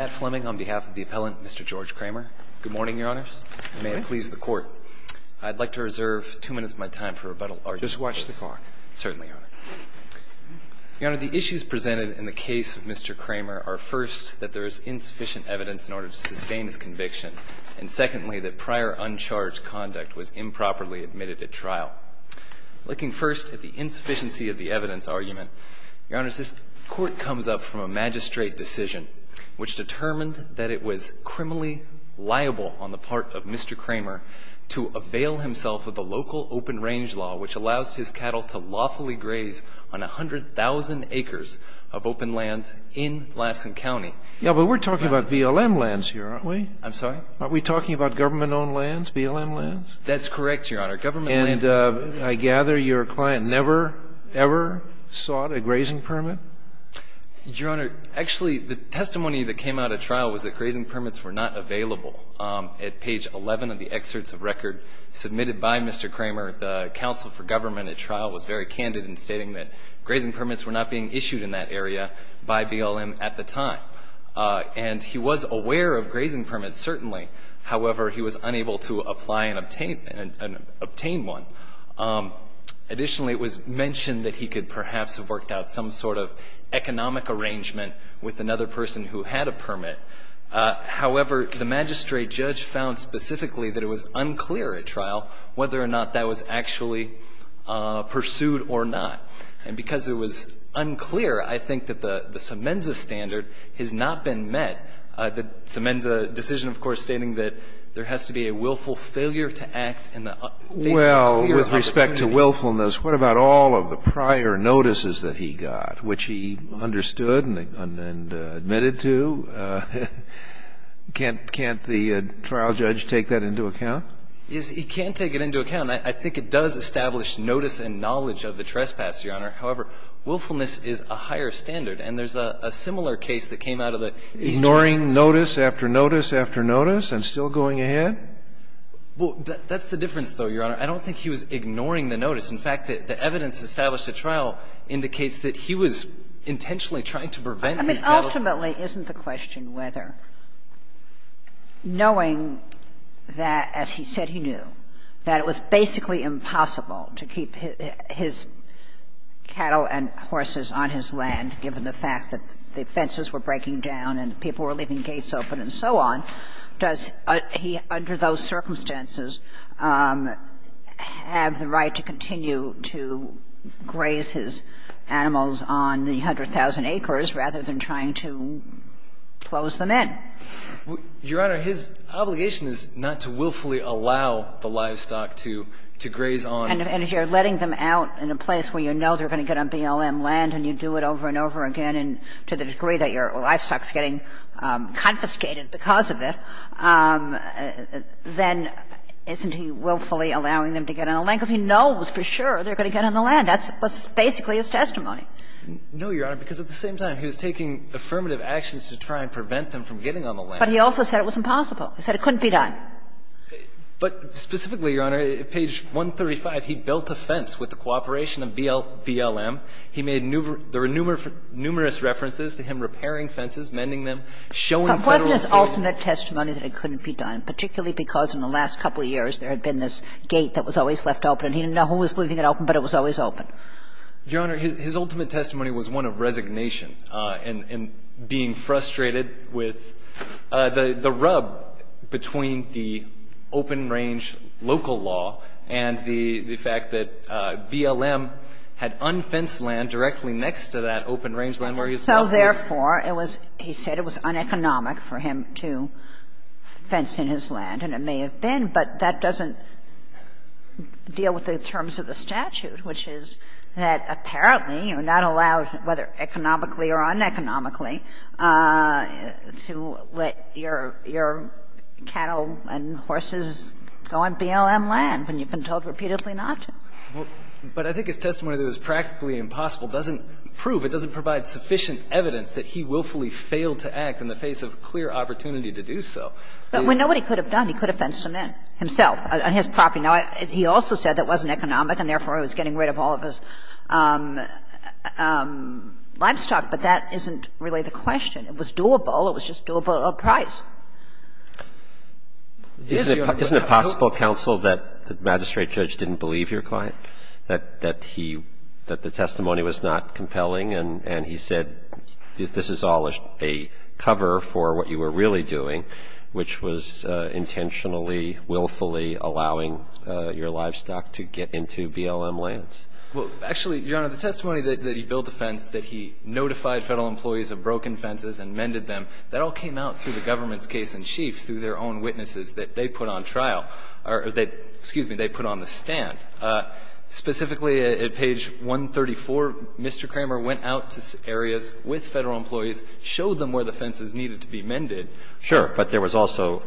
on behalf of the appellant, Mr. George Cramer. Good morning, Your Honors. Good morning. May it please the Court, I'd like to reserve two minutes of my time for rebuttal arguments. Just watch the clock. Certainly, Your Honor. Your Honor, the issues presented in the case of Mr. Cramer are, first, that there is insufficient evidence in order to sustain his conviction, and secondly, that prior uncharged conduct was improperly admitted at trial. Looking first at the insufficiency of the evidence argument, Your Honors, this Court comes up from a magistrate decision which determined that it was criminally liable on the part of Mr. Cramer to avail himself of the local open-range law which allows his cattle to lawfully graze on 100,000 acres of open land in Lassen County. Yeah, but we're talking about BLM lands here, aren't we? I'm sorry? Aren't we talking about government-owned lands, BLM lands? That's correct, Your Honor. And I gather your client never, ever sought a grazing permit? Your Honor, actually, the testimony that came out at trial was that grazing permits were not available. At page 11 of the excerpts of record submitted by Mr. Cramer, the counsel for government at trial was very candid in stating that grazing permits were not being issued in that area by BLM at the time. And he was aware of grazing permits, certainly. However, he was unable to apply and obtain one. Additionally, it was mentioned that he could perhaps have worked out some sort of economic arrangement with another person who had a permit. However, the magistrate judge found specifically that it was unclear at trial whether or not that was actually pursued or not. And because it was unclear, I think that the Semenza standard has not been met. The Semenza decision, of course, stating that there has to be a willful failure to act in the face of a clear opportunity. Well, with respect to willfulness, what about all of the prior notices that he got, which he understood and admitted to? Can't the trial judge take that into account? Yes, he can't take it into account. I think it does establish notice and knowledge of the trespass, Your Honor. However, willfulness is a higher standard. And there's a similar case that came out of the Eastern Court. Ignoring notice after notice after notice and still going ahead? Well, that's the difference, though, Your Honor. I don't think he was ignoring the notice. In fact, the evidence established at trial indicates that he was intentionally trying to prevent these cattle. I mean, ultimately, isn't the question whether, knowing that, as he said he knew, that it was basically impossible to keep his cattle and horses on his land, given the fact that the fences were breaking down and people were leaving gates open and so on, does he, under those circumstances, have the right to continue to graze his animals on the 100,000 acres rather than trying to close them in? Your Honor, his obligation is not to willfully allow the livestock to graze on. And if you're letting them out in a place where you know they're going to get on BLM land and you do it over and over again and to the degree that your livestock is getting confiscated because of it, then isn't he willfully allowing them to get on the land because he knows for sure they're going to get on the land? That's basically his testimony. No, Your Honor, because at the same time, he was taking affirmative actions to try and prevent them from getting on the land. But he also said it was impossible. He said it couldn't be done. But specifically, Your Honor, page 135, he built a fence with the cooperation of BLM. He made numerous references to him repairing fences, mending them, showing Federal officials. But wasn't his ultimate testimony that it couldn't be done, particularly because in the last couple years there had been this gate that was always left open and he didn't know who was leaving it open, but it was always open? Your Honor, his ultimate testimony was one of resignation and being frustrated with the rub between the open-range local law and the fact that BLM had unfenced land directly next to that open-range land where he is now living. So therefore, it was he said it was uneconomic for him to fence in his land, and it was his testimony that apparently you're not allowed, whether economically or uneconomically, to let your cattle and horses go on BLM land when you've been told repeatedly not to. But I think his testimony that it was practically impossible doesn't prove, it doesn't provide sufficient evidence that he willfully failed to act in the face of a clear opportunity to do so. But when nobody could have done, he could have fenced him in himself on his property. Now, he also said it wasn't economic and therefore he was getting rid of all of his livestock, but that isn't really the question. It was doable. It was just doable at a price. This, Your Honor. Isn't it possible, counsel, that the magistrate judge didn't believe your client, that he, that the testimony was not compelling, and he said this is all a cover for what you were really doing, which was intentionally, willfully allowing your livestock to get into BLM lands? Well, actually, Your Honor, the testimony that he built a fence, that he notified Federal employees of broken fences and mended them, that all came out through the government's case-in-chief, through their own witnesses that they put on trial or that, excuse me, they put on the stand. Specifically at page 134, Mr. Kramer went out to areas with Federal employees, showed them where the fences needed to be mended. Sure. But there was also,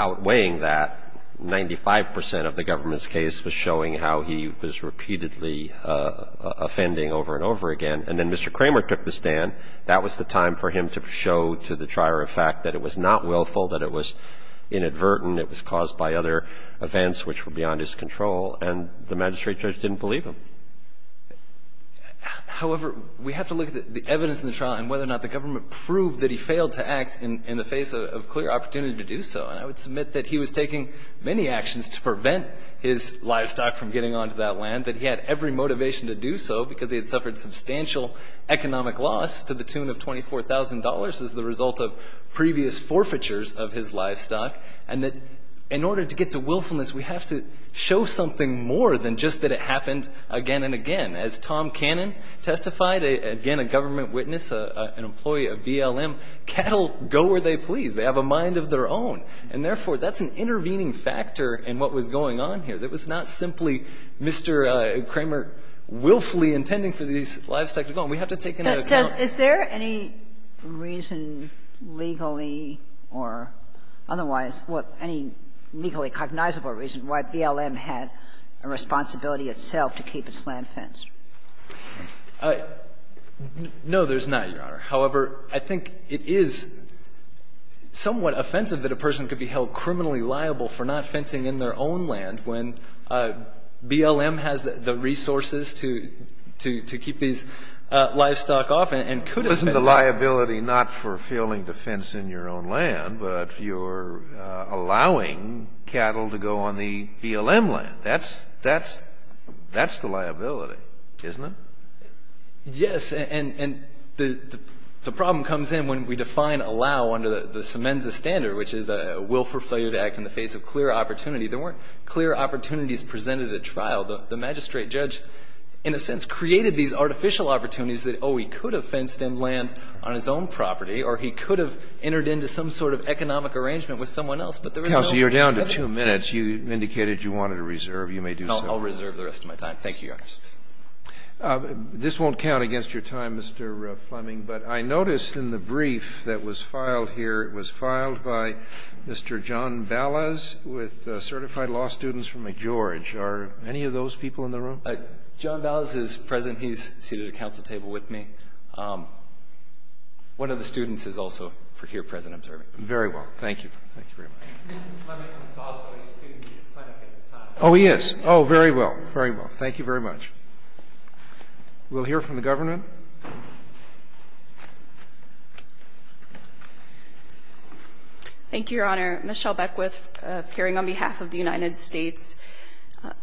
outweighing that, 95 percent of the government's case was showing how he was repeatedly offending over and over again. And then Mr. Kramer took the stand. That was the time for him to show to the trier of fact that it was not willful, that it was inadvertent, it was caused by other events which were beyond his control, and the magistrate judge didn't believe him. However, we have to look at the evidence in the trial and whether or not the government would prove that he failed to act in the face of clear opportunity to do so. And I would submit that he was taking many actions to prevent his livestock from getting onto that land, that he had every motivation to do so because he had suffered substantial economic loss to the tune of $24,000 as the result of previous forfeitures of his livestock, and that in order to get to willfulness, we have to show something more than just that it happened again and again. As Tom Cannon testified, again, a government witness, an employee of BLM, cattle go where they please. They have a mind of their own. And therefore, that's an intervening factor in what was going on here. That was not simply Mr. Kramer willfully intending for these livestock to go. And we have to take into account that. Kagan is there any reason legally or otherwise, any legally cognizable reason why BLM had a responsibility itself to keep its land fenced? No, there's not, Your Honor. However, I think it is somewhat offensive that a person could be held criminally liable for not fencing in their own land when BLM has the resources to keep these livestock off and could have fenced it. But isn't the liability not for failing to fence in your own land, but you're allowing cattle to go on the BLM land? That's the liability, isn't it? Yes, and the problem comes in when we define allow under the Symenza Standard, which is a willful failure to act in the face of clear opportunity. There weren't clear opportunities presented at trial. The magistrate judge, in a sense, created these artificial opportunities that, oh, he could have fenced in land on his own property or he could have entered into some sort of economic arrangement with someone else. But there is no evidence. Counsel, you're down to two minutes. You indicated you wanted to reserve. You may do so. No, I'll reserve the rest of my time. Thank you, Your Honor. This won't count against your time, Mr. Fleming, but I noticed in the brief that was filed here, it was filed by Mr. John Ballas with certified law students from McGeorge. Are any of those people in the room? John Ballas is present. He's seated at a council table with me. One of the students is also here present. Very well. Thank you. Thank you very much. Mr. Fleming was also a student at the time. Oh, he is. Oh, very well. Very well. Thank you very much. We'll hear from the government. Thank you, Your Honor. Michelle Beckwith, appearing on behalf of the United States.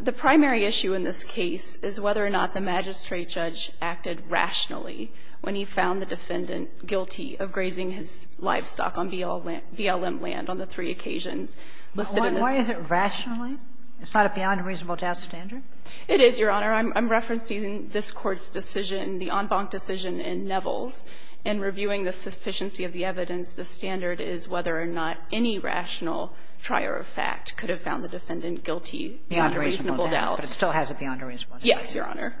The primary issue in this case is whether or not the magistrate judge acted rationally when he found the defendant guilty of grazing his livestock on BLM land on the three occasions listed in this. Why is it rationally? It's not a beyond reasonable doubt standard? It is, Your Honor. I'm referencing this Court's decision, the en banc decision in Nevels, and reviewing the sufficiency of the evidence, the standard is whether or not any rational trier of fact could have found the defendant guilty beyond reasonable doubt. Beyond reasonable doubt, but it still has a beyond reasonable doubt. Yes, Your Honor.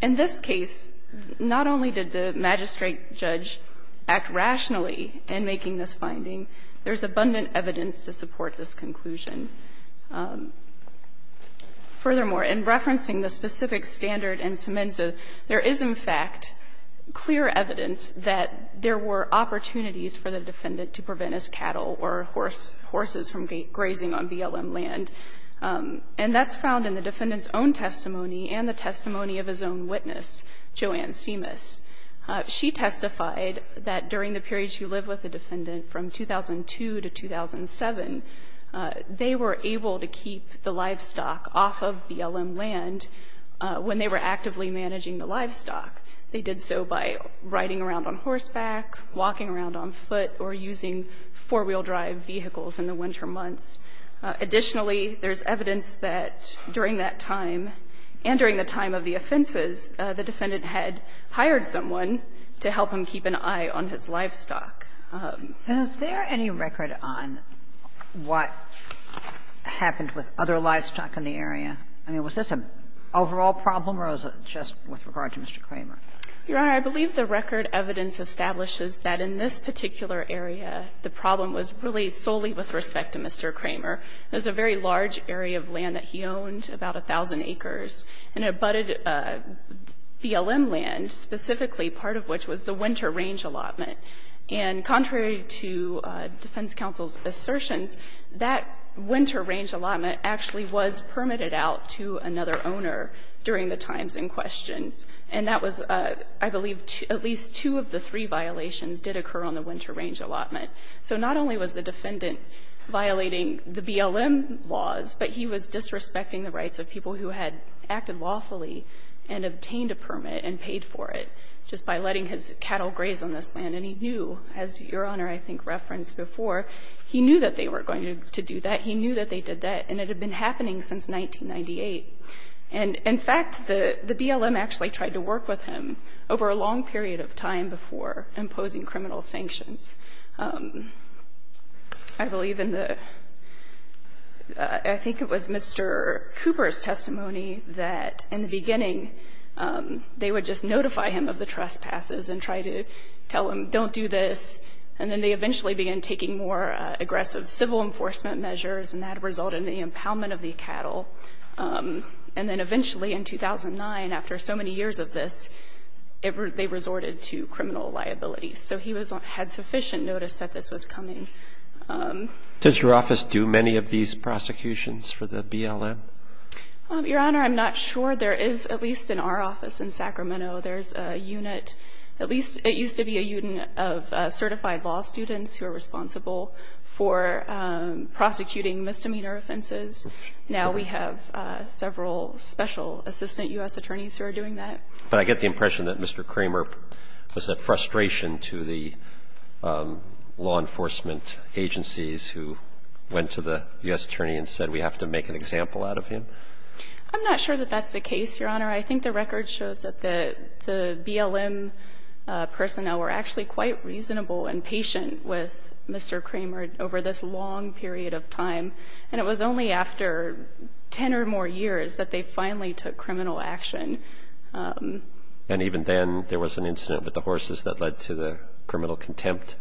In this case, not only did the magistrate judge act rationally in making this finding, there is abundant evidence to support this conclusion. Furthermore, in referencing the specific standard in Semenza, there is, in fact, clear evidence that there were opportunities for the defendant to prevent his cattle or horses from grazing on BLM land. And that's found in the defendant's own testimony and the testimony of his own witness, Joanne Simas. She testified that during the period she lived with the defendant from 2002 to 2007, they were able to keep the livestock off of BLM land when they were actively managing the livestock. They did so by riding around on horseback, walking around on foot, or using four-wheel drive vehicles in the winter months. Additionally, there's evidence that during that time and during the time of the offenses, the defendant had hired someone to help him keep an eye on his livestock. And is there any record on what happened with other livestock in the area? I mean, was this an overall problem or was it just with regard to Mr. Kramer? Your Honor, I believe the record evidence establishes that in this particular area, the problem was really solely with respect to Mr. Kramer. It was a very large area of land that he owned, about 1,000 acres, and it abutted BLM land, specifically part of which was the winter range allotment. And contrary to defense counsel's assertions, that winter range allotment actually was permitted out to another owner during the times in question. And that was, I believe, at least two of the three violations did occur on the winter range allotment. So not only was the defendant violating the BLM laws, but he was disrespecting the rights of people who had acted lawfully and obtained a permit and paid for it, just by letting his cattle graze on this land. And he knew, as Your Honor I think referenced before, he knew that they were going to do that. He knew that they did that, and it had been happening since 1998. And in fact, the BLM actually tried to work with him over a long period of time before imposing criminal sanctions. I believe in the — I think it was Mr. Cooper's testimony that in the beginning, they would just notify him of the trespasses and try to tell him, don't do this. And then they eventually began taking more aggressive civil enforcement measures, and that resulted in the impoundment of the cattle. And then eventually in 2009, after so many years of this, they resorted to criminal liabilities. So he had sufficient notice that this was coming. Does your office do many of these prosecutions for the BLM? Your Honor, I'm not sure. There is, at least in our office in Sacramento, there's a unit — at least it used to be a unit of certified law students who are responsible for prosecuting misdemeanor offenses. Now we have several special assistant U.S. attorneys who are doing that. But I get the impression that Mr. Kramer was at frustration to the law enforcement agencies who went to the U.S. attorney and said, we have to make an example out of him. I'm not sure that that's the case, Your Honor. I think the record shows that the BLM personnel were actually quite reasonable and patient with Mr. Kramer over this long period of time. And it was only after 10 or more years that they finally took criminal action. And even then, there was an incident with the horses that led to the criminal contempt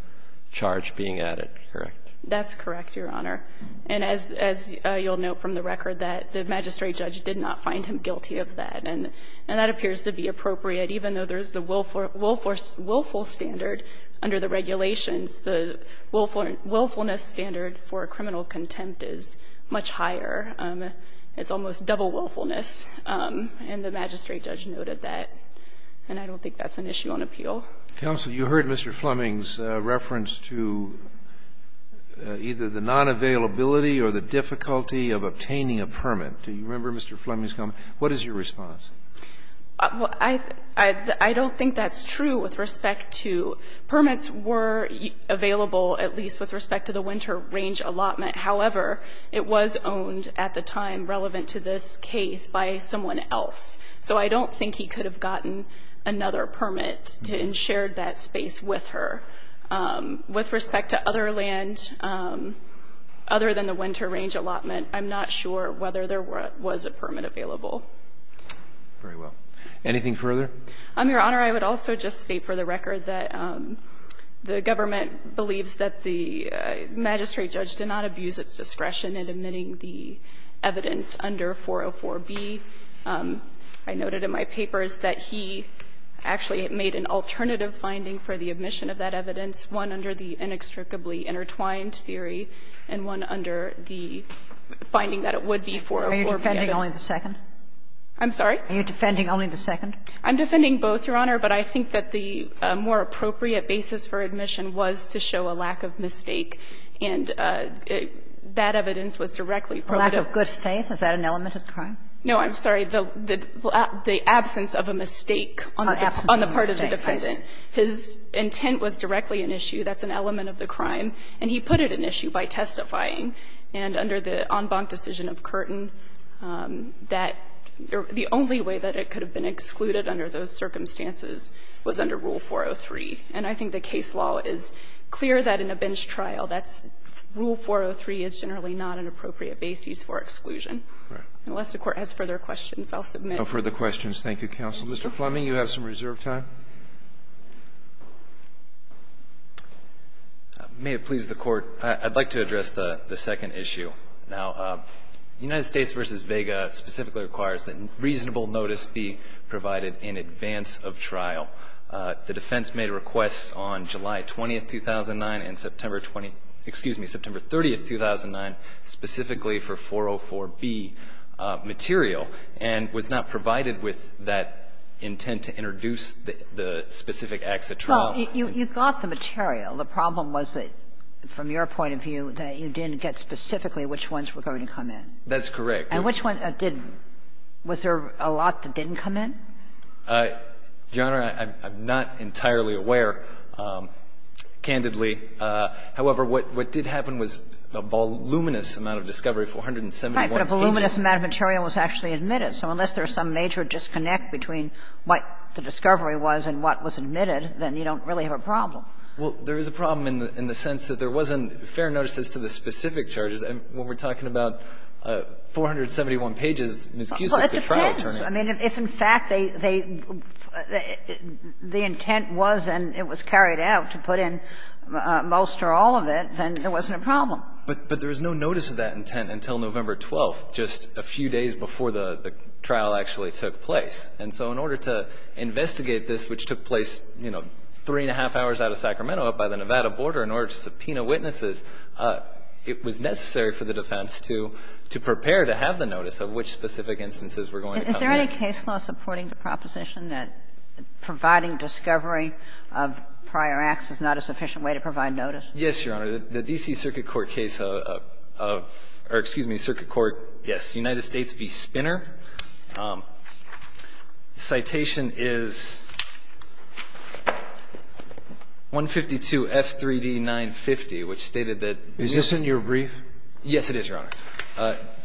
charge being added, correct? That's correct, Your Honor. And as you'll note from the record, that the magistrate judge did not find him guilty of that, and that appears to be appropriate, even though there's the willful standard under the regulations. The willfulness standard for criminal contempt is much higher. It's almost double willfulness, and the magistrate judge noted that. And I don't think that's an issue on appeal. Counsel, you heard Mr. Fleming's reference to either the nonavailability or the difficulty of obtaining a permit. Do you remember Mr. Fleming's comment? What is your response? Well, I don't think that's true with respect to permits were available, at least with respect to the winter range allotment. However, it was owned at the time relevant to this case by someone else. So I don't think he could have gotten another permit and shared that space with her. With respect to other land, other than the winter range allotment, I'm not sure whether there was a permit available. Very well. Anything further? Your Honor, I would also just state for the record that the government believes that the magistrate judge did not abuse its discretion in admitting the evidence under 404b. I noted in my papers that he actually made an alternative finding for the admission of that evidence, one under the inextricably intertwined theory and one under the inextricably intertwined theory. And I think that that would be 404b. Are you defending only the second? I'm sorry? Are you defending only the second? I'm defending both, Your Honor. But I think that the more appropriate basis for admission was to show a lack of mistake. And that evidence was directly provided. Lack of good faith? Is that an element of the crime? No, I'm sorry. The absence of a mistake on the part of the defendant. His intent was directly an issue. That's an element of the crime. And he put it an issue by testifying. And under the en banc decision of Curtin, that the only way that it could have been excluded under those circumstances was under Rule 403. And I think the case law is clear that in a bench trial that's Rule 403 is generally not an appropriate basis for exclusion. Unless the Court has further questions, I'll submit. No further questions. Thank you, counsel. Mr. Fleming, you have some reserve time. May it please the Court, I'd like to address the second issue. Now, United States v. Vega specifically requires that reasonable notice be provided in advance of trial. The defense made requests on July 20, 2009, and September 20, excuse me, September 30, 2009, specifically for 404B material, and was not provided with that intent to introduce the specific acts at trial. Well, you got the material. The problem was that, from your point of view, that you didn't get specifically which ones were going to come in. That's correct. And which one didn't? Was there a lot that didn't come in? Your Honor, I'm not entirely aware, candidly. However, what did happen was a voluminous amount of discovery, 471 pages. Right, but a voluminous amount of material was actually admitted. So unless there's some major disconnect between what the discovery was and what was admitted, then you don't really have a problem. Well, there is a problem in the sense that there wasn't fair notices to the specific charges, and when we're talking about 471 pages, Ms. Cusick could try to turn it in. Well, it depends. I mean, if in fact they the intent was and it was carried out to put in most or all of it, then there wasn't a problem. But there was no notice of that intent until November 12th, just a few days before the trial actually took place. And so in order to investigate this, which took place, you know, three and a half hours out of Sacramento, up by the Nevada border, in order to subpoena witnesses, it was necessary for the defense to prepare to have the notice of which specific instances were going to come in. Is there any case law supporting the proposition that providing discovery of prior acts is not a sufficient way to provide notice? Yes, Your Honor. The D.C. Circuit Court case of or excuse me, Circuit Court, yes, United States v. Spinner. Citation is 152F3D950, which stated that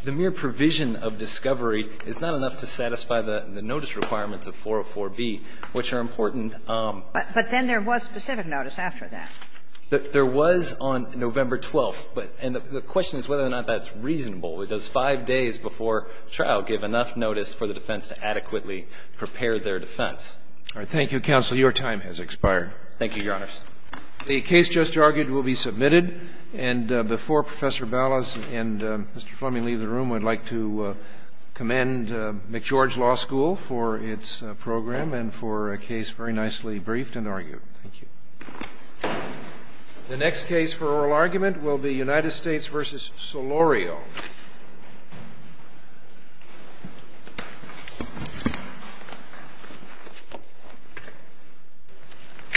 the mere provision of discovery is not enough to satisfy the notice requirements of 404B, which are important. But then there was specific notice after that. There was on November 12th, and the question is whether or not that's reasonable. Does five days before trial give enough notice for the defense to adequately prepare their defense? All right. Thank you, counsel. Your time has expired. Thank you, Your Honors. The case just argued will be submitted. And before Professor Ballas and Mr. Fleming leave the room, I'd like to commend McGeorge Law School for its program and for a case very nicely briefed and argued. Thank you. The next case for oral argument will be United States v. Solorio.